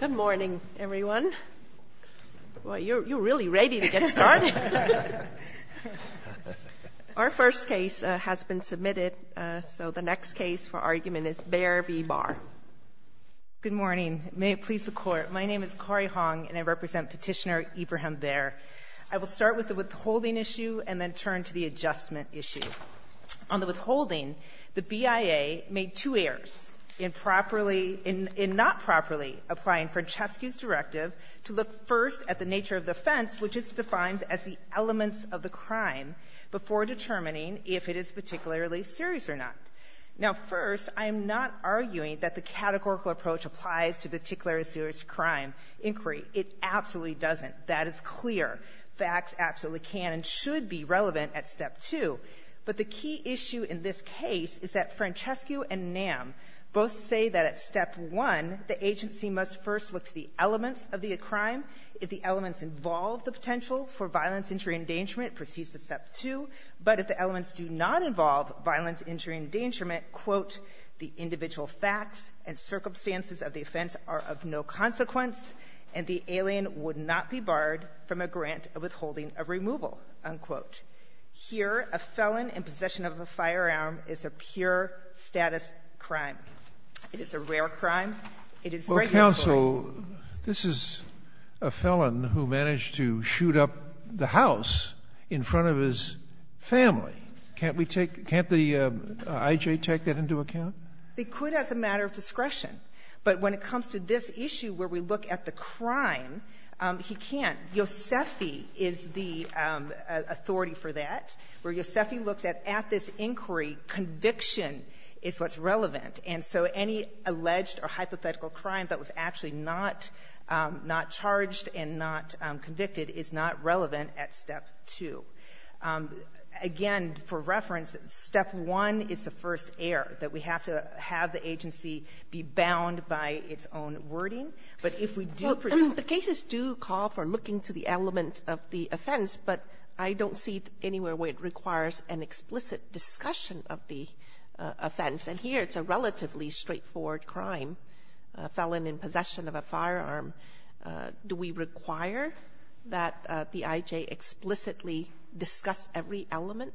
Good morning everyone. Well you're really ready to get started. Our first case has been submitted so the next case for argument is Bare v. Barr. Good morning may it please the court my name is Corrie Hong and I represent petitioner Ibrahim Bare. I will start with the withholding issue and then turn to the adjustment issue. On the withholding the BIA made two errors in properly in not properly applying Francescu's directive to look first at the nature of the offense which is defined as the elements of the crime before determining if it is particularly serious or not. Now first I am not arguing that the categorical approach applies to particular serious crime inquiry. It absolutely doesn't. That is clear. Facts absolutely can and should be relevant at step two. But the key issue in this case is that Francescu and Nam both say that at step one the agency must first look to the elements of the crime. If the elements involve the potential for violence injury endangerment proceeds to step two. But if the elements do not involve violence injury endangerment quote the individual facts and circumstances of the offense are of no consequence and the alien would not be barred from a grant of withholding a removal unquote. Here a firearm is a pure status crime. It is a rare crime. It is well counsel this is a felon who managed to shoot up the house in front of his family. Can't we take can't the IJ take that into account? They could as a matter of discretion but when it comes to this issue where we look at the crime he can't. Yosefi is the authority for that. Where Yosefi looks at this inquiry conviction is what's relevant. And so any alleged or hypothetical crime that was actually not not charged and not convicted is not relevant at step two. Again for reference step one is the first error that we have to have the agency be bound by its own wording. But if we do present the cases do call for looking to the element of the offense. But if we look at the I don't see anywhere where it requires an explicit discussion of the offense. And here it's a relatively straightforward crime. A felon in possession of a firearm. Do we require that the IJ explicitly discuss every element?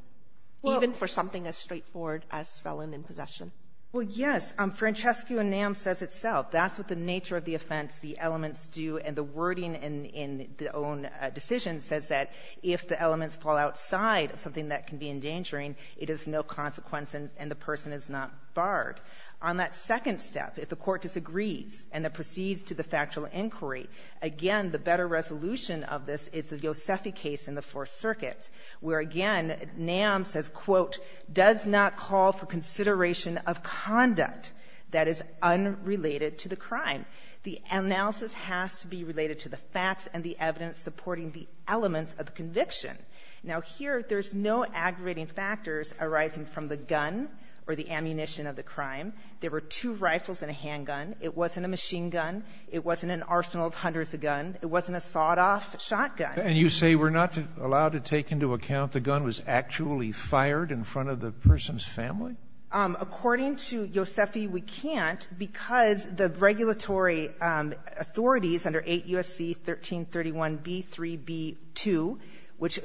Even for something as straightforward as felon in possession? Well yes. Francescu and Nam says itself. That's what the nature of the offense the elements do and the wording and in the own decision says that if the elements fall outside of something that can be endangering it is no consequence and the person is not barred. On that second step if the court disagrees and it proceeds to the factual inquiry. Again the better resolution of this is the Yosefi case in the fourth circuit. Where again Nam says quote does not call for consideration of conduct that is unrelated to the crime. The analysis has to be related to the facts and the evidence supporting the elements of conviction. Now here there's no aggravating factors arising from the gun or the ammunition of the crime. There were two rifles and a handgun. It wasn't a machine gun. It wasn't an arsenal of hundreds of guns. It wasn't a sawed off shotgun. And you say we're not allowed to take into account the gun was actually fired in front of the person's family? According to Yosefi we can't because the regulatory authorities under 8 U.S.C. 1331 B.3.B.2 which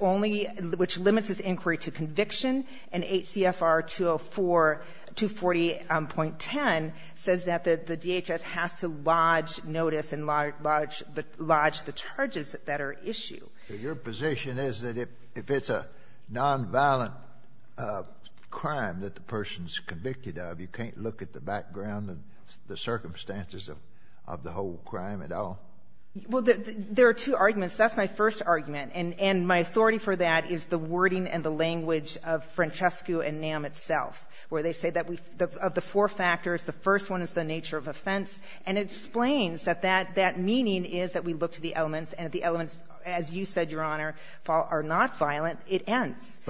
only which limits this inquiry to conviction and 8 C.F.R. 204 240.10 says that the D.H.S. has to lodge notice and lodge the charges that are issued. Your position is that if it's a non-violent crime that the person's convicted of you can't look at the background and the circumstances of the whole crime at all? Well, there are two arguments. That's my first argument. And my authority for that is the wording and the language of Francescu and NAM itself where they say that of the four factors the first one is the nature of offense. And it explains that that meaning is that we look to the elements and if the elements, as you said, Your Honor, are not violent it ends.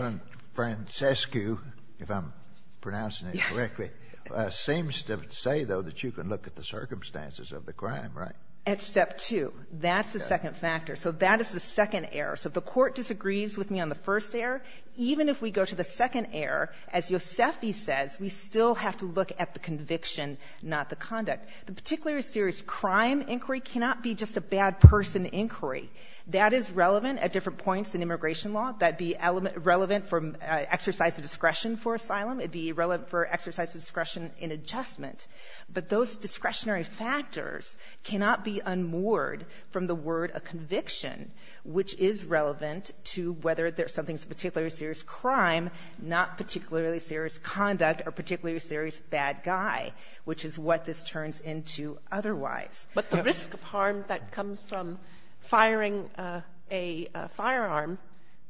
Francescu, if I'm pronouncing it correctly, seems to say though that you can look at the circumstances of the crime, right? At step two. That's the second factor. So that is the second error. So if the court disagrees with me on the first error, even if we go to the second error, as Yosefi says, we still have to look at the conviction not the conduct. The particularly serious crime inquiry cannot be just a bad person inquiry. That is relevant at different points in immigration law. That'd be relevant for exercise of discretion for asylum. It'd be relevant for exercise of discretion in adjustment. But those discretionary factors cannot be unmoored from the word a conviction, which is relevant to whether there's something particularly serious crime, not particularly serious conduct, or particularly serious bad guy, which is what this turns into otherwise. But the risk of harm that comes from firing a firearm,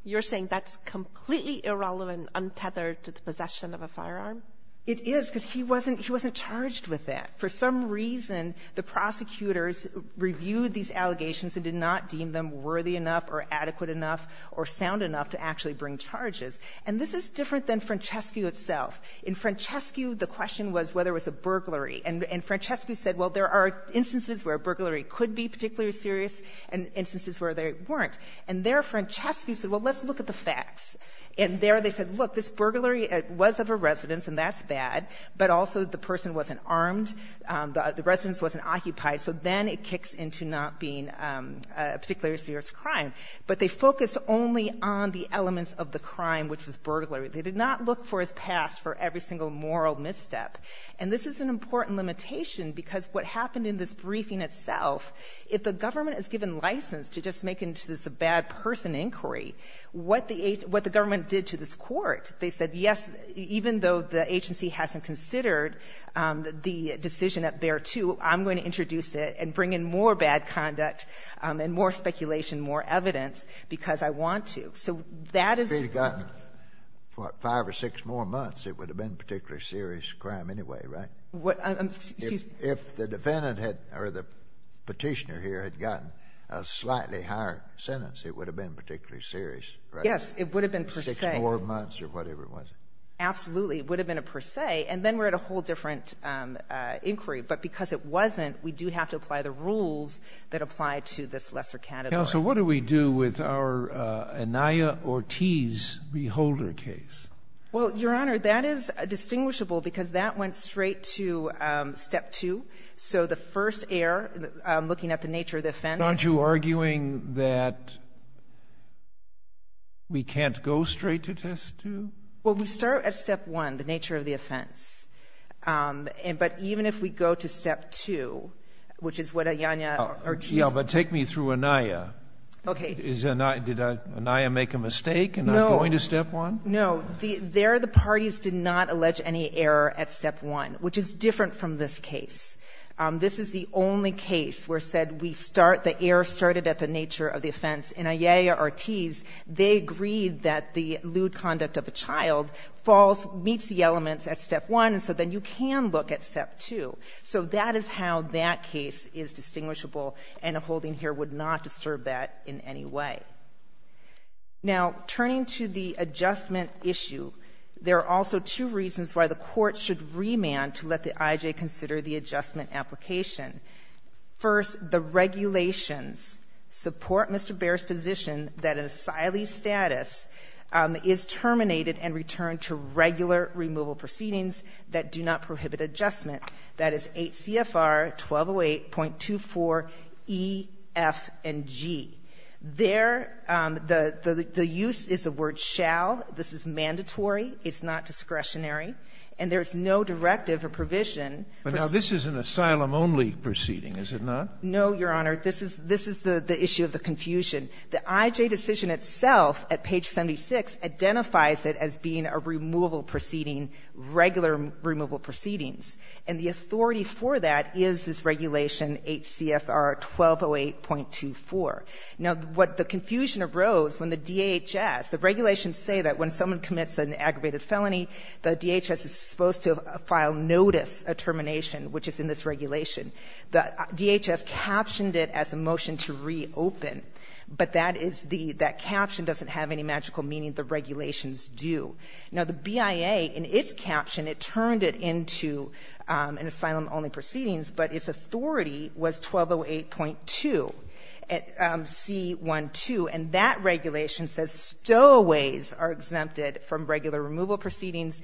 you're saying that's completely irrelevant, untethered to the possession of a firearm? It is because he wasn't charged with that. For some reason, the prosecutors reviewed these allegations and did not deem them worthy enough or adequate enough or sound enough to actually bring charges. And this is different than Francescu itself. In Francescu, the question was whether it was a burglary. And Francescu said, well, there are instances where a burglary could be particularly serious and instances where they weren't. And there Francescu said, well, let's look at the facts. And there they said, look, this burglary was of a residence, and that's bad, but also the person wasn't armed, the residence wasn't occupied, so then it kicks into not being a particularly serious crime. But they focused only on the elements of the crime, which was burglary. They did not look for his past for every single moral misstep. And this is an important limitation, because what happened in this briefing itself, if the government is given license to just make this a bad person inquiry, what the government did to this court, they said, yes, even though the agency hasn't considered the decision at Bexar II, I'm going to introduce it and bring in more bad conduct and more speculation, more evidence, because I want to. So that is... If it had gotten, what, five or six more months, it would have been a particularly serious crime anyway, right? What... I'm... excuse... If the defendant had, or the petitioner here, had gotten a slightly higher sentence, it would have been particularly serious, right? Yes, it would have been per se. Six more months or whatever it was. Absolutely. It would have been a per se, and then we're at a whole different inquiry. But because it wasn't, we do have to apply the rules that apply to this lesser category. Counsel, what do we do with our Anaya Ortiz Beholder case? Well, Your Honor, that is distinguishable, because that went straight to Step 2. So the first error, looking at the nature of the offense... Aren't you arguing that we can't go straight to Test 2? Well, we start at Step 1, the nature of the offense. But even if we go to Step 2, which is what Anaya Ortiz... Yeah, but take me through Anaya. Okay. Is Anaya... Did Anaya make a mistake in not going to Step 1? No. There, the parties did not allege any error at Step 1, which is different from this case. This is the only case where said we start... the error started at the nature of the offense. In Anaya Ortiz, they agreed that the lewd conduct of a child falls, meets the elements at Step 1, and so then you can look at Step 2. So that is how that case is distinguishable, and a holding here would not disturb that in any way. Now, turning to the adjustment issue, there are also two reasons why the court should remand to let the IJ consider the adjustment application. First, the regulations support Mr. Baer's position that an asylee's status is terminated and returned to regular removal proceedings that do not prohibit adjustment. That is 8 CFR 1208.24 E, F, and G. There, the use is the word shall. This is mandatory. It's not discretionary, and there's no directive or provision...... in the proceeding, is it not? No, Your Honor. This is the issue of the confusion. The IJ decision itself at page 76 identifies it as being a removal proceeding, regular removal proceedings, and the authority for that is this regulation, 8 CFR 1208.24. Now, what the confusion arose when the DHS... the regulations say that when someone commits an aggravated felony, the DHS is supposed to file notice of termination, which is in this regulation. The DHS captioned it as a motion to reopen, but that is the... that caption doesn't have any magical meaning. The regulations do. Now, the BIA, in its caption, it turned it into an asylum-only proceedings, but its authority was 1208.2 C.1.2, and that regulation says stowaways are exempted from regular removal proceedings.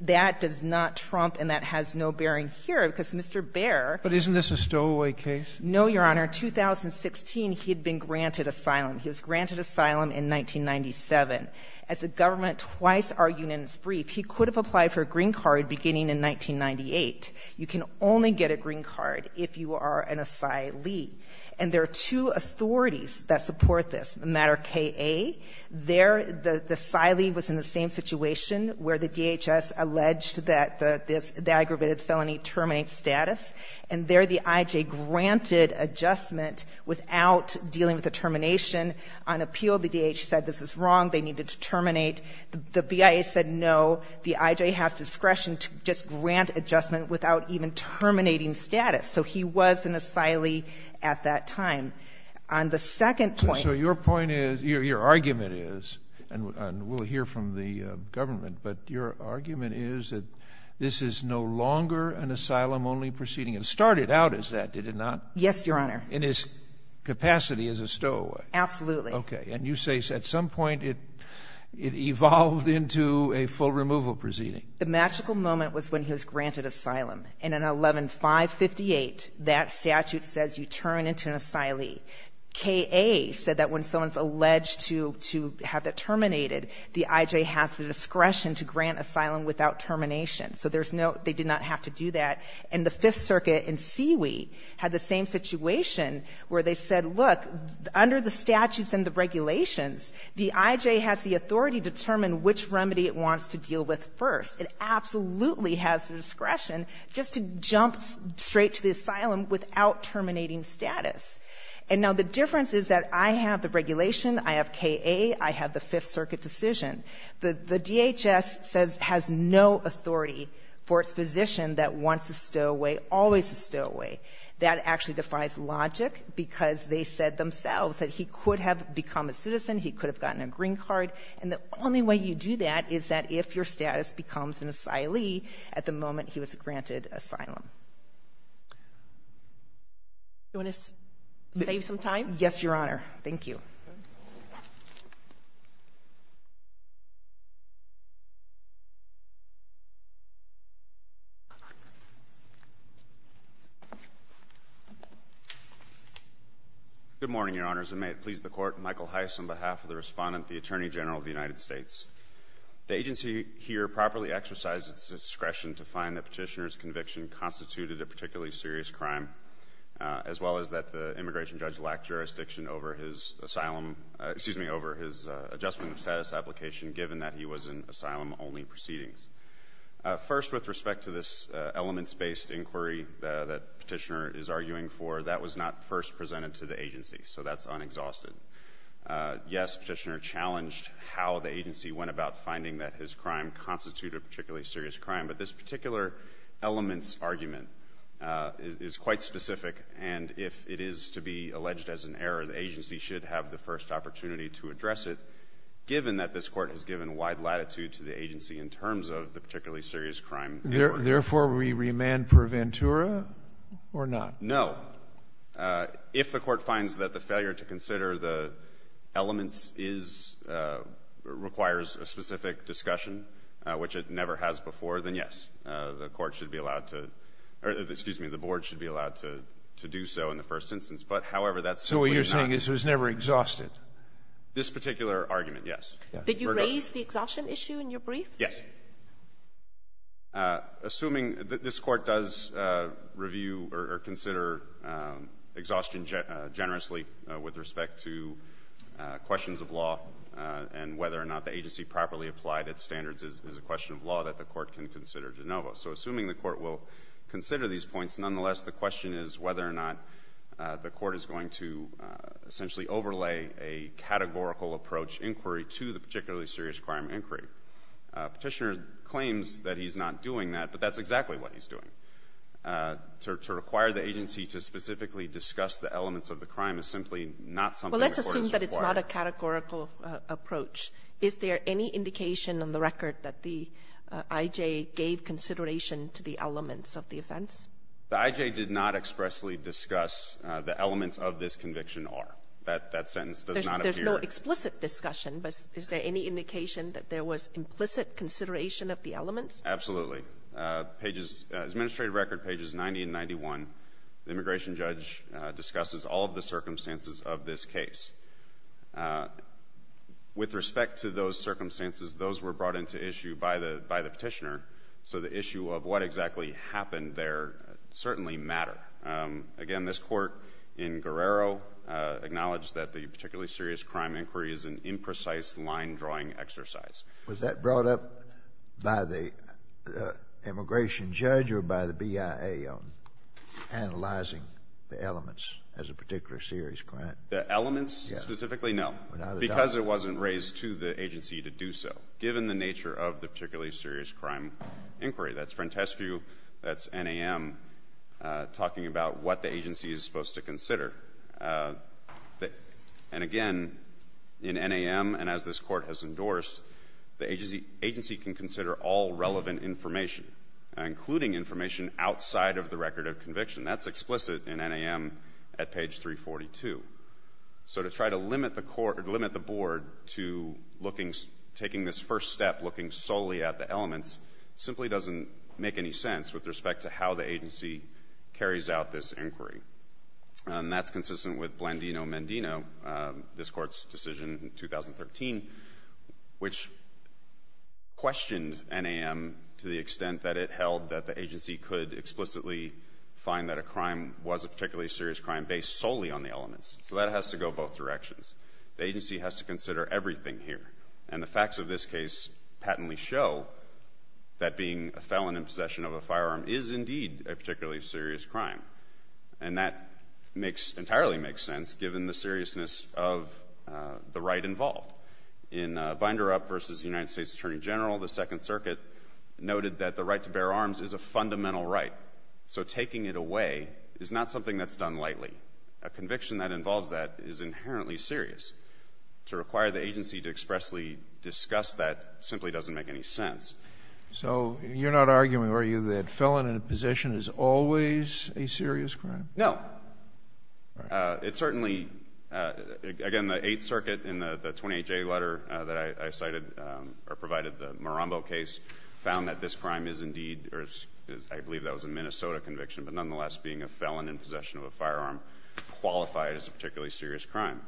That does not trump, and that has no bearing here, because Mr. Baer... But isn't this a stowaway case? No, Your Honor. In 2016, he had been granted asylum. He was granted asylum in 1997. As the government twice argued in its brief, he could have applied for a green card beginning in 1998. You can only get a green card if you are an asylee. And there are two authorities that support this. In the matter of K.A., there, the asylee was in the same situation where the DHS alleged that the aggravated felony terminates status. And there, the I.J. granted adjustment without dealing with the termination. On appeal, the DHS said this was wrong, they needed to terminate. The BIA said no, the I.J. has discretion to just grant adjustment without even terminating status. So he was an asylee at that time. On the second point... And we'll hear from the government, but your argument is that this is no longer an asylum-only proceeding. It started out as that, did it not? Yes, Your Honor. In its capacity as a stowaway? Absolutely. Okay. And you say at some point, it evolved into a full removal proceeding? The magical moment was when he was granted asylum. In an 11-558, that statute says you turn into an asylee. K.A. said that when someone's alleged to have that terminated, the I.J. has the discretion to grant asylum without termination. So there's no... they did not have to do that. And the Fifth Circuit in Seawee had the same situation where they said, look, under the statutes and the regulations, the I.J. has the authority to determine which remedy it wants to deal with first. It absolutely has the discretion just to status. And now the difference is that I have the regulation, I have K.A., I have the Fifth Circuit decision. The DHS says it has no authority for its position that wants a stowaway, always a stowaway. That actually defies logic because they said themselves that he could have become a citizen, he could have gotten a green card. And the only way you do that is that if your status becomes an asylee at the moment he was granted asylum. Do you want to save some time? Yes, Your Honor. Thank you. Good morning, Your Honors, and may it please the Court, Michael Heiss on behalf of the Respondent, the Attorney General of the United States. The agency here properly exercises its discretion to find that petitioner's conviction constituted a particularly serious crime, as well as that the immigration judge lacked jurisdiction over his adjustment of status application, given that he was in asylum-only proceedings. First, with respect to this elements-based inquiry that petitioner is arguing for, that was not first presented to the agency, so that's unexhausted. Yes, petitioner challenged how the agency went about finding that his crime constituted a particularly serious crime, but this argument is quite specific, and if it is to be alleged as an error, the agency should have the first opportunity to address it, given that this Court has given wide latitude to the agency in terms of the particularly serious crime. Therefore, we remand per ventura or not? No. If the Court finds that the failure to consider the elements requires a specific discussion, which it never has before, then yes, the Court should be allowed to, or excuse me, the Board should be allowed to do so in the first instance, but however that's simply not. So what you're saying is it was never exhausted? This particular argument, yes. Did you raise the exhaustion issue in your brief? Yes. Assuming that this Court does review or consider exhaustion generously with respect to questions of law, and whether or not the agency properly applied its standards is a question that the Court can consider de novo. So assuming the Court will consider these points, nonetheless, the question is whether or not the Court is going to essentially overlay a categorical approach inquiry to the particularly serious crime inquiry. Petitioner claims that he's not doing that, but that's exactly what he's doing. To require the agency to specifically discuss the elements of the crime is simply not something the Court is required to do. Well, let's assume that it's not a categorical approach. Is there any indication on the record that the IJ gave consideration to the elements of the offense? The IJ did not expressly discuss the elements of this conviction or that that sentence does not appear. There's no explicit discussion, but is there any indication that there was implicit consideration of the elements? Absolutely. Pages, administrative record pages 90 and 91, the immigration judge discusses all of the circumstances of this case. With respect to those circumstances, those were brought into issue by the Petitioner, so the issue of what exactly happened there certainly matter. Again, this Court in Guerrero acknowledged that the particularly serious crime inquiry is an imprecise line-drawing exercise. Was that brought up by the immigration judge or by the BIA analyzing the elements as a particular serious crime? The elements specifically? No. Because it wasn't raised to the agency to do so, given the nature of the particularly serious crime inquiry. That's Frentescu, that's NAM talking about what the agency is supposed to consider. And again, in NAM and as this Court has endorsed, the agency can consider all relevant information, including information outside of the record of conviction. That's explicit in the Court, limit the Board to looking, taking this first step, looking solely at the elements, simply doesn't make any sense with respect to how the agency carries out this inquiry. And that's consistent with Blandino-Mendino, this Court's decision in 2013, which questioned NAM to the extent that it held that the agency could explicitly find that a crime was a particularly serious crime based solely on the elements. So that has to go both directions. The agency has to consider everything here. And the facts of this case patently show that being a felon in possession of a firearm is indeed a particularly serious crime. And that makes, entirely makes sense, given the seriousness of the right involved. In Binder Up versus the United States Attorney General, the Second Circuit noted that the right to bear arms is a fundamental right. So taking it away is not something that's done lightly. A conviction that involves that is inherently serious. To require the agency to expressly discuss that simply doesn't make any sense. So you're not arguing, are you, that felon in possession is always a serious crime? No. It certainly, again, the Eighth Circuit in the 28-J letter that I cited, or provided the Marombo case, found that this crime is indeed, or I believe that was a Minnesota conviction, but nonetheless, being a felon in possession of a firearm qualified as a particularly serious crime.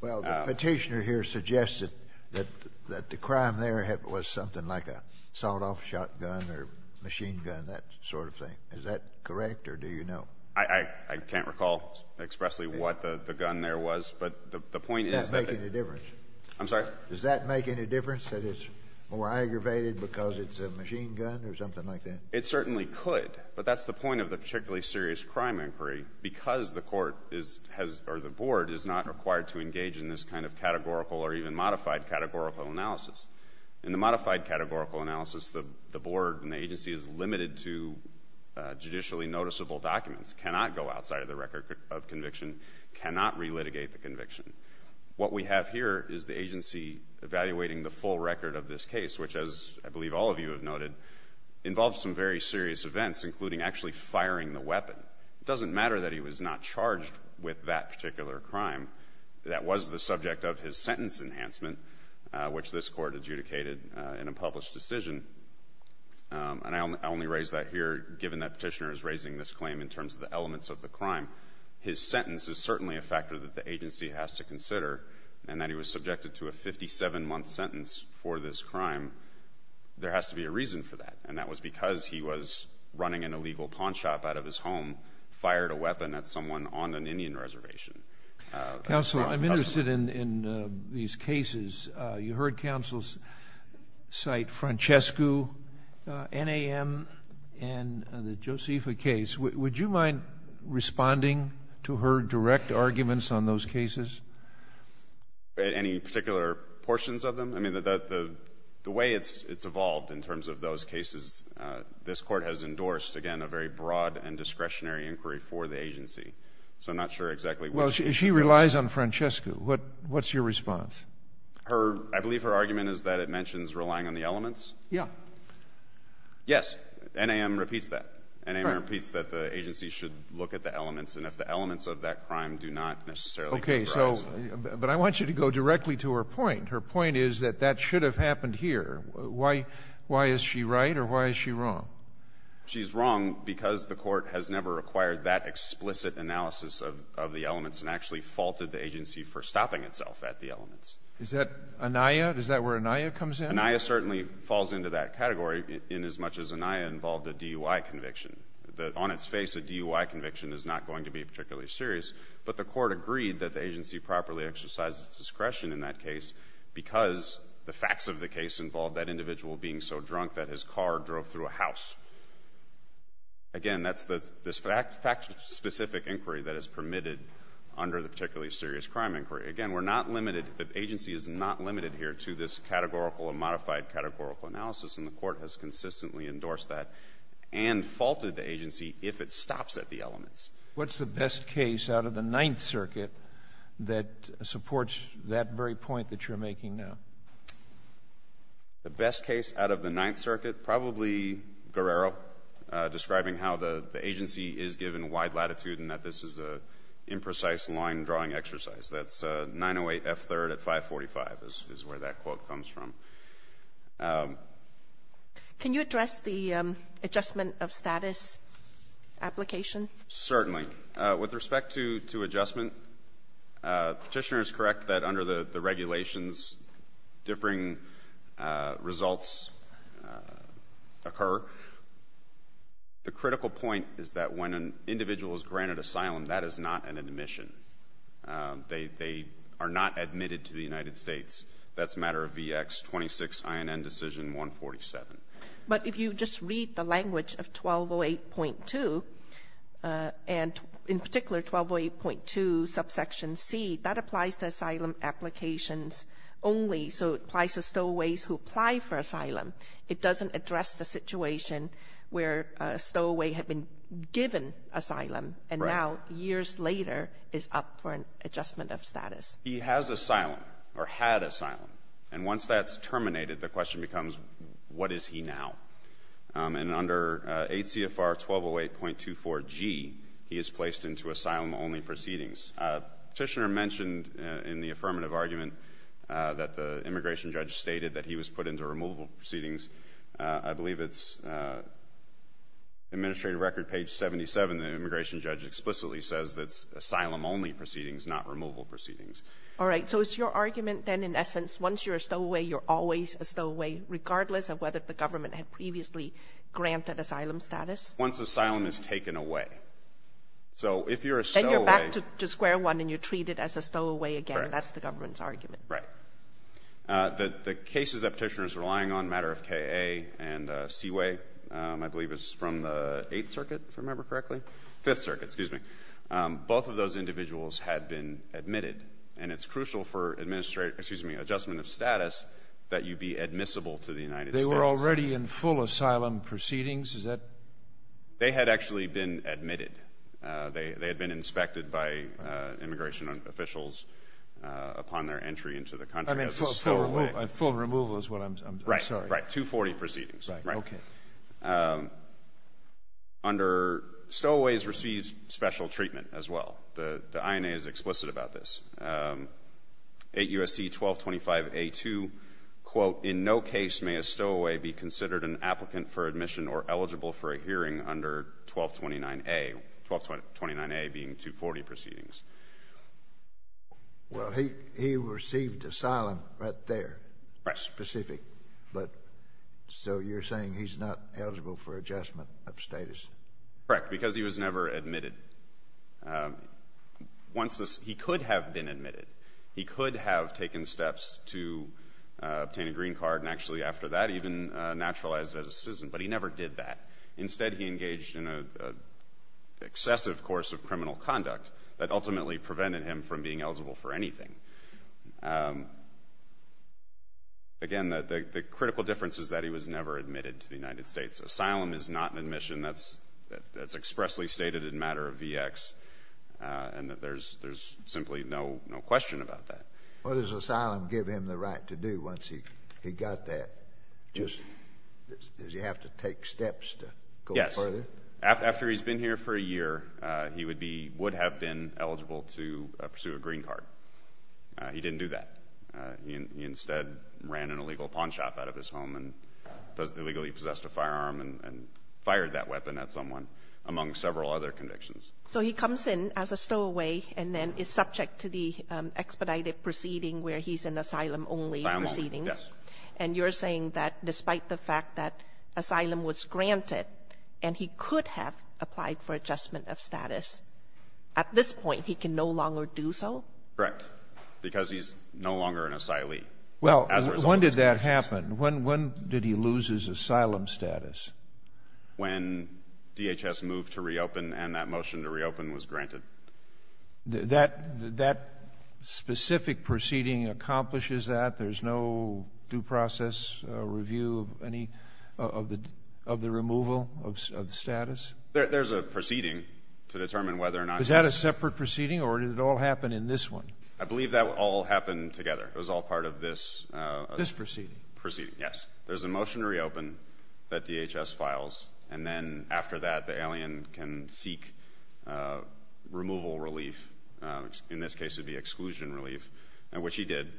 Well, the petitioner here suggested that the crime there was something like a sawed-off shotgun or machine gun, that sort of thing. Is that correct, or do you know? I can't recall expressly what the gun there was, but the point is that— Does that make any difference? I'm sorry? Does that make any difference, that it's more aggravated because it's a machine gun or something like that? It certainly could, but that's the point of the particularly serious crime inquiry, because the court or the board is not required to engage in this kind of categorical or even modified categorical analysis. In the modified categorical analysis, the board and the agency is limited to judicially noticeable documents, cannot go outside of the record of conviction, cannot relitigate the conviction. What we have here is the agency evaluating the full record of this case, which, as I believe all of you have noted, involves some very serious events, including actually firing the weapon. It doesn't matter that he was not charged with that particular crime. That was the subject of his sentence enhancement, which this court adjudicated in a published decision, and I only raise that here given that petitioner is raising this claim in terms of the elements of the crime. His sentence is certainly a factor that the agency has to consider, and that he was subjected to a 57-month sentence for this crime. There has to be a reason for that, and that was because he was running an illegal pawn shop out of his home, fired a weapon at someone on an Indian reservation. Counselor, I'm interested in these cases. You heard counsels cite Francesco, NAM, and the Josefa case. Would you mind responding to her direct arguments on those cases? Any particular portions of them? I mean, the way it's evolved in terms of those cases, this court has endorsed, again, a very broad and discretionary inquiry for the agency, so I'm not sure exactly which. She relies on Francesco. What's your response? I believe her argument is that it mentions relying on the elements. Yeah. Yes. NAM repeats that. NAM repeats that the agency should look at the elements. Okay. But I want you to go directly to her point. Her point is that that should have happened here. Why is she right, or why is she wrong? She's wrong because the court has never acquired that explicit analysis of the elements and actually faulted the agency for stopping itself at the elements. Is that where ANIA comes in? ANIA certainly falls into that category inasmuch as ANIA involved a DUI conviction. On its face, a DUI conviction is not going to be particularly serious, but the court agreed that the agency properly exercised its discretion in that case because the facts of the case involved that individual being so drunk that his car drove through a house. Again, that's the fact-specific inquiry that is permitted under the particularly serious crime inquiry. Again, we're not limited, the agency is not limited here to this categorical and modified categorical analysis, and the court has consistently endorsed that and faulted the agency if it stops at the elements. What's the best case out of the Ninth Circuit that supports that very point that you're making now? The best case out of the Ninth Circuit? Probably Guerrero describing how the agency is given wide latitude and that this is an imprecise line-drawing exercise. That's 908 F. 3rd at 545 is where that quote comes from. Can you address the adjustment of status application? Certainly. With respect to adjustment, the petitioner is correct that under the regulations, differing results occur. The critical point is that when an individual is granted asylum, that is not an admission. They are not admitted to the United States. That's a matter of VX 26 INN decision 147. But if you just read the language of 1208.2, and in particular 1208.2 subsection C, that applies to asylum applications only, so it applies to stowaways who apply for asylum. It doesn't address the situation where a stowaway had been given asylum and now, years later, is up for an adjustment of status. He has asylum or had asylum, and once that's terminated, the question becomes, what is he now? And under 8 CFR 1208.24 G, he is placed into asylum-only proceedings. Petitioner mentioned in the affirmative argument that the immigration judge stated that he was put into removal proceedings. I believe it's Administrative Record page 77, the immigration judge explicitly says that it's asylum-only proceedings, not removal proceedings. All right. So it's your argument, then, in essence, once you're a stowaway, you're always a stowaway, regardless of whether the government had previously granted asylum status? Once asylum is taken away. So if you're a stowaway... Then you're back to square one and you're treated as a stowaway again. That's the government's argument. Right. The cases that petitioners are relying on, matter of K.A. and Seaway, I believe it's from the 8th Circuit, if I remember correctly, 5th Circuit, excuse me, both of those individuals had been admitted. And it's crucial for adjustment of status that you be admissible to the United States. They were already in full asylum proceedings? Is that... They had actually been admitted. They had been inspected by immigration officials upon their entry into the country as a stowaway. Full removal is what I'm... Right. Right. 240 proceedings. Right. Okay. Under... Stowaways receive special treatment as well. The INA is explicit about this. 8 U.S.C. 1225A2, quote, in no case may a stowaway be considered an applicant for admission or eligible for a hearing under 1229A. 1229A being 240 proceedings. Well, he received asylum right there. Right. Specific. But so you're saying he's not eligible for adjustment of status? Correct. Because he was never admitted. Once this... He could have been admitted. He could have taken steps to obtain a green card and actually after that even naturalized as a citizen. But he never did that. Instead, he engaged in an excessive course of criminal conduct that ultimately prevented him from being eligible for anything. Again, the critical difference is that he was never admitted to the United States. Asylum is not an admission that's expressly stated in matter of VX. And that there's simply no question about that. What does asylum give him the right to do once he got that? Just... Does he have to take steps to go further? Yes. After he's been here for a year, he would be... Would have been eligible to pursue a green card. He didn't do that. He instead ran an illegal pawn shop out of his home and illegally possessed a firearm and fired that weapon at someone among several other convictions. So he comes in as a stowaway and then is subject to the expedited proceeding where he's in asylum only proceedings. And you're saying that despite the fact that asylum was granted and he could have applied for adjustment of status, at this point he can no longer do so? Correct. Because he's no longer an asylee. Well, when did that happen? When did he lose his asylum status? When DHS moved to reopen and that motion to reopen was granted. That specific proceeding accomplishes that? There's no due process review of the removal of the status? There's a proceeding to determine whether or not... Is that a separate proceeding or did it all happen in this one? I believe that all happened together. It was all part of this... This proceeding? Proceeding, yes. There's a motion to reopen that DHS files, and then after that the alien can seek removal relief. In this case it would be exclusion relief, which he did.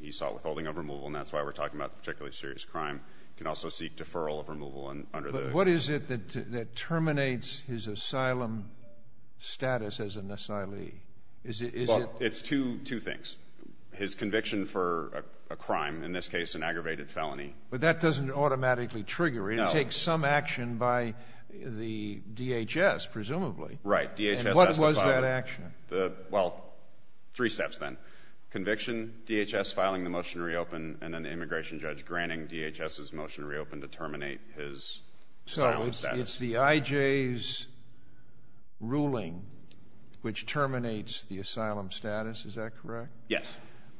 He sought withholding of removal, and that's why we're talking about the particularly serious crime. He can also seek deferral of removal under the... But what is it that terminates his asylum status as an asylee? Well, it's two things. His conviction for a crime, in this case an aggravated felony. But that doesn't automatically trigger it. It takes some action by the DHS, presumably. Right. DHS has to file... And what was that action? Well, three steps then. Conviction, DHS filing the motion to reopen, and then the immigration judge granting DHS's motion to reopen to terminate his asylum status. It's the IJ's ruling which terminates the asylum status. Is that correct? Yes.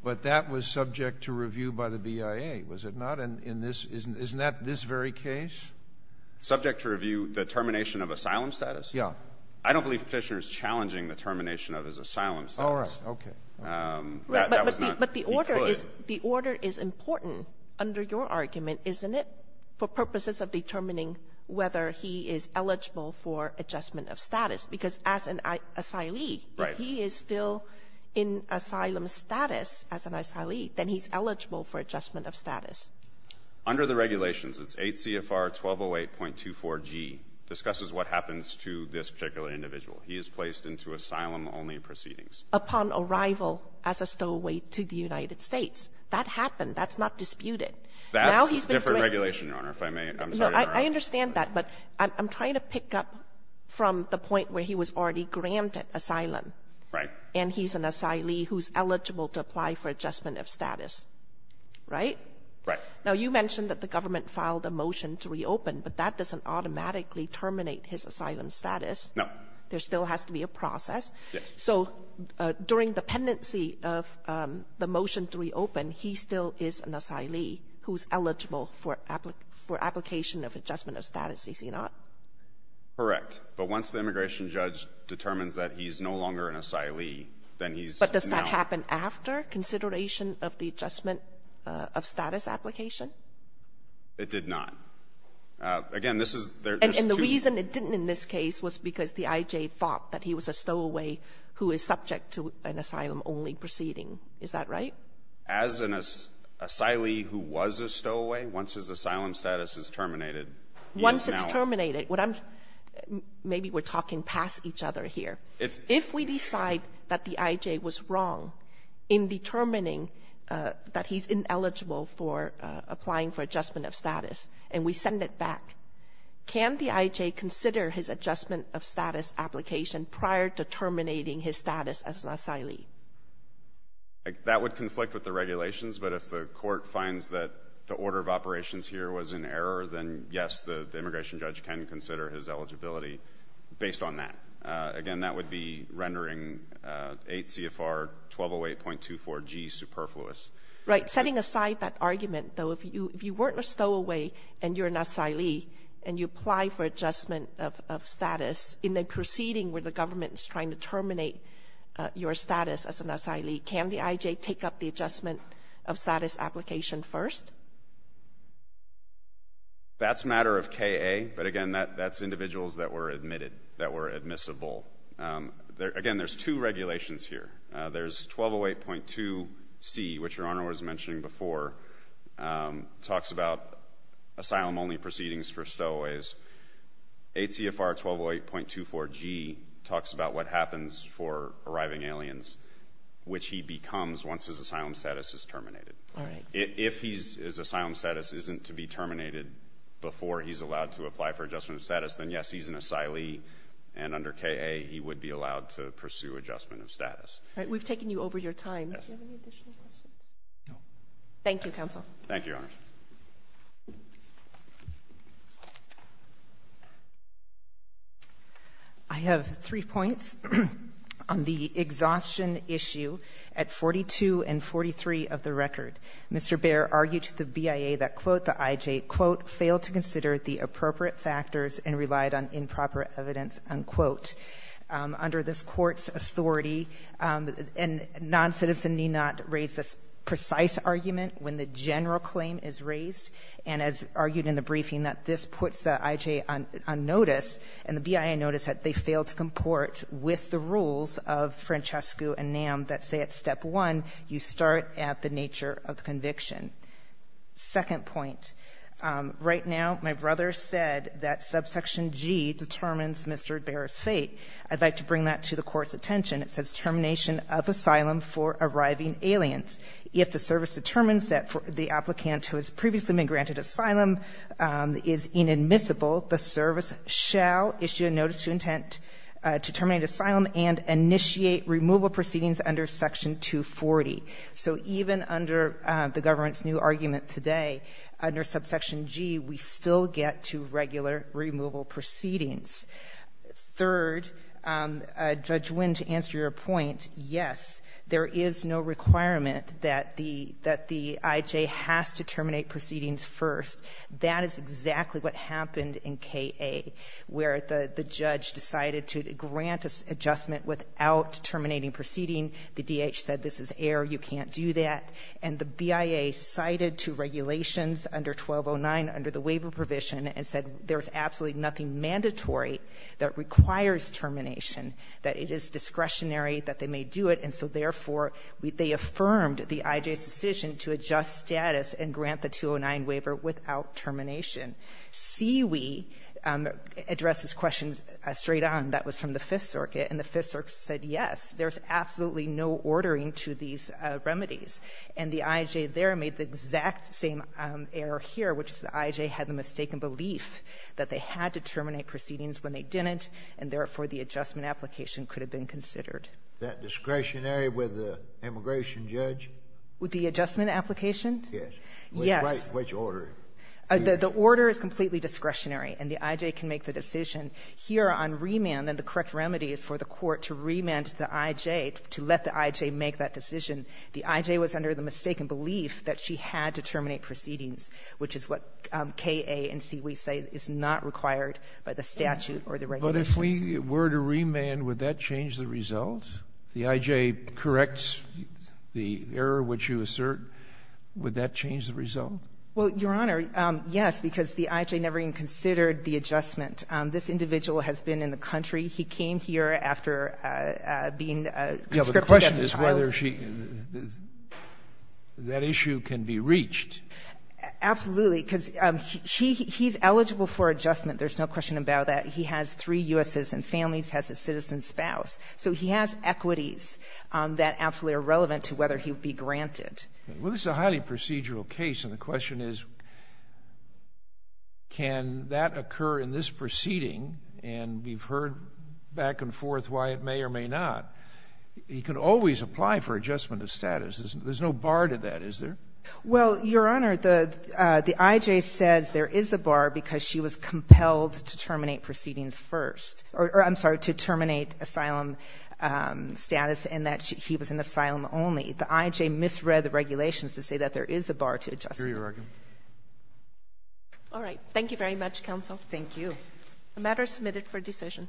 But that was subject to review by the BIA, was it not? And isn't that this very case? Subject to review the termination of asylum status? Yeah. I don't believe Fishner is challenging the termination of his asylum status. All right, okay. But the order is important under your argument, isn't it, for purposes of determining whether he is eligible for adjustment of status? Because as an asylee, if he is still in asylum status as an asylee, then he's eligible for adjustment of status. Under the regulations, it's 8 CFR 1208.24G, discusses what happens to this particular individual. He is placed into asylum-only proceedings. Upon arrival as a stowaway to the United States. That happened. That's not disputed. That's a different regulation, Your Honor, if I may. I'm sorry, Your Honor. No, I understand that, but I'm trying to pick up from the point where he was already granted asylum. Right. And he's an asylee who's eligible to apply for adjustment of status, right? Right. Now, you mentioned that the government filed a motion to reopen, but that doesn't automatically terminate his asylum status. No. There still has to be a process. Yes. So, during the pendency of the motion to reopen, he still is an asylee who's eligible for application of adjustment of status, is he not? Correct. But once the immigration judge determines that he's no longer an asylee, then he's not. But does that happen after consideration of the adjustment of status application? It did not. Again, this is – And the reason it didn't in this case was because the IJ thought that he was a stowaway who is subject to an asylum-only proceeding. Is that right? As an asylee who was a stowaway, once his asylum status is terminated, he is not. Once it's terminated. Maybe we're talking past each other here. If we decide that the IJ was wrong in determining that he's ineligible for applying for adjustment of status and we send it back, can the IJ consider his adjustment of status application prior to terminating his status as an asylee? That would conflict with the regulations, but if the court finds that the order of operations here was in error, then, yes, the immigration judge can consider his eligibility based on that. Again, that would be rendering 8 CFR 1208.24G superfluous. Right. Setting aside that argument, though, if you weren't a stowaway and you're an asylee and you apply for adjustment of status in a proceeding where the government is trying to terminate your status as an asylee, can the IJ take up the adjustment of status application first? That's a matter of KA, but, again, that's individuals that were admitted, that were admissible. Again, there's two regulations here. There's 1208.2C, which Your Honor was mentioning before, talks about asylum-only proceedings for stowaways. 8 CFR 1208.24G talks about what happens for arriving aliens, which he becomes once his asylum status is terminated. All right. If his asylum status isn't to be terminated before he's allowed to apply for adjustment of status, then, yes, he's an asylee, and under KA he would be allowed to pursue adjustment of status. All right. We've taken you over your time. Do you have any additional questions? No. Thank you, Counsel. Thank you, Your Honor. I have three points on the exhaustion issue at 42 and 43 of the record. Mr. Baer argued to the BIA that, quote, the IJ, quote, Under this Court's authority, a noncitizen need not raise this precise argument when the general claim is raised, and as argued in the briefing that this puts the IJ on notice and the BIA notice that they fail to comport with the rules of Francescu and NAM that say at step one you start at the nature of conviction. Second point. Right now my brother said that subsection G determines Mr. Baer's fate. I'd like to bring that to the Court's attention. It says termination of asylum for arriving aliens. If the service determines that the applicant who has previously been granted asylum is inadmissible, the service shall issue a notice to intent to terminate asylum and initiate removal proceedings under section 240. So even under the government's new argument today, under subsection G we still get to regular removal proceedings. Third, Judge Wynn, to answer your point, yes, there is no requirement that the IJ has to terminate proceedings first. That is exactly what happened in K.A., where the judge decided to grant adjustment without terminating proceeding. The D.H. said this is air, you can't do that. And the BIA cited two regulations under 1209 under the waiver provision and said there's absolutely nothing mandatory that requires termination, that it is discretionary that they may do it, and so therefore they affirmed the IJ's decision to adjust status and grant the 209 waiver without termination. CWE addresses questions straight on. That was from the Fifth Circuit, and the Fifth Circuit said yes, there's absolutely no ordering to these remedies. And the IJ there made the exact same error here, which is the IJ had the mistaken belief that they had to terminate proceedings when they didn't, and therefore the adjustment application could have been considered. Is that discretionary with the immigration judge? With the adjustment application? Yes. Yes. Which order? The order is completely discretionary, and the IJ can make the decision. Here on remand, then the correct remedy is for the court to remand the IJ, to let the IJ make that decision. The IJ was under the mistaken belief that she had to terminate proceedings, which is what KA and CWE say is not required by the statute or the regulations. But if we were to remand, would that change the results? The IJ corrects the error which you assert. Would that change the result? Well, Your Honor, yes, because the IJ never even considered the adjustment. This individual has been in the country. He came here after being conscripted as a child. The question is whether that issue can be reached. Absolutely, because he's eligible for adjustment. There's no question about that. He has three U.S. citizen families, has a citizen spouse. So he has equities that absolutely are relevant to whether he would be granted. Well, this is a highly procedural case, and the question is can that occur in this proceeding? And we've heard back and forth why it may or may not. You can always apply for adjustment of status. There's no bar to that, is there? Well, Your Honor, the IJ says there is a bar because she was compelled to terminate proceedings first or, I'm sorry, to terminate asylum status and that he was in asylum only. The IJ misread the regulations to say that there is a bar to adjustment. All right. Thank you very much, counsel. Thank you. The matter is submitted for decision.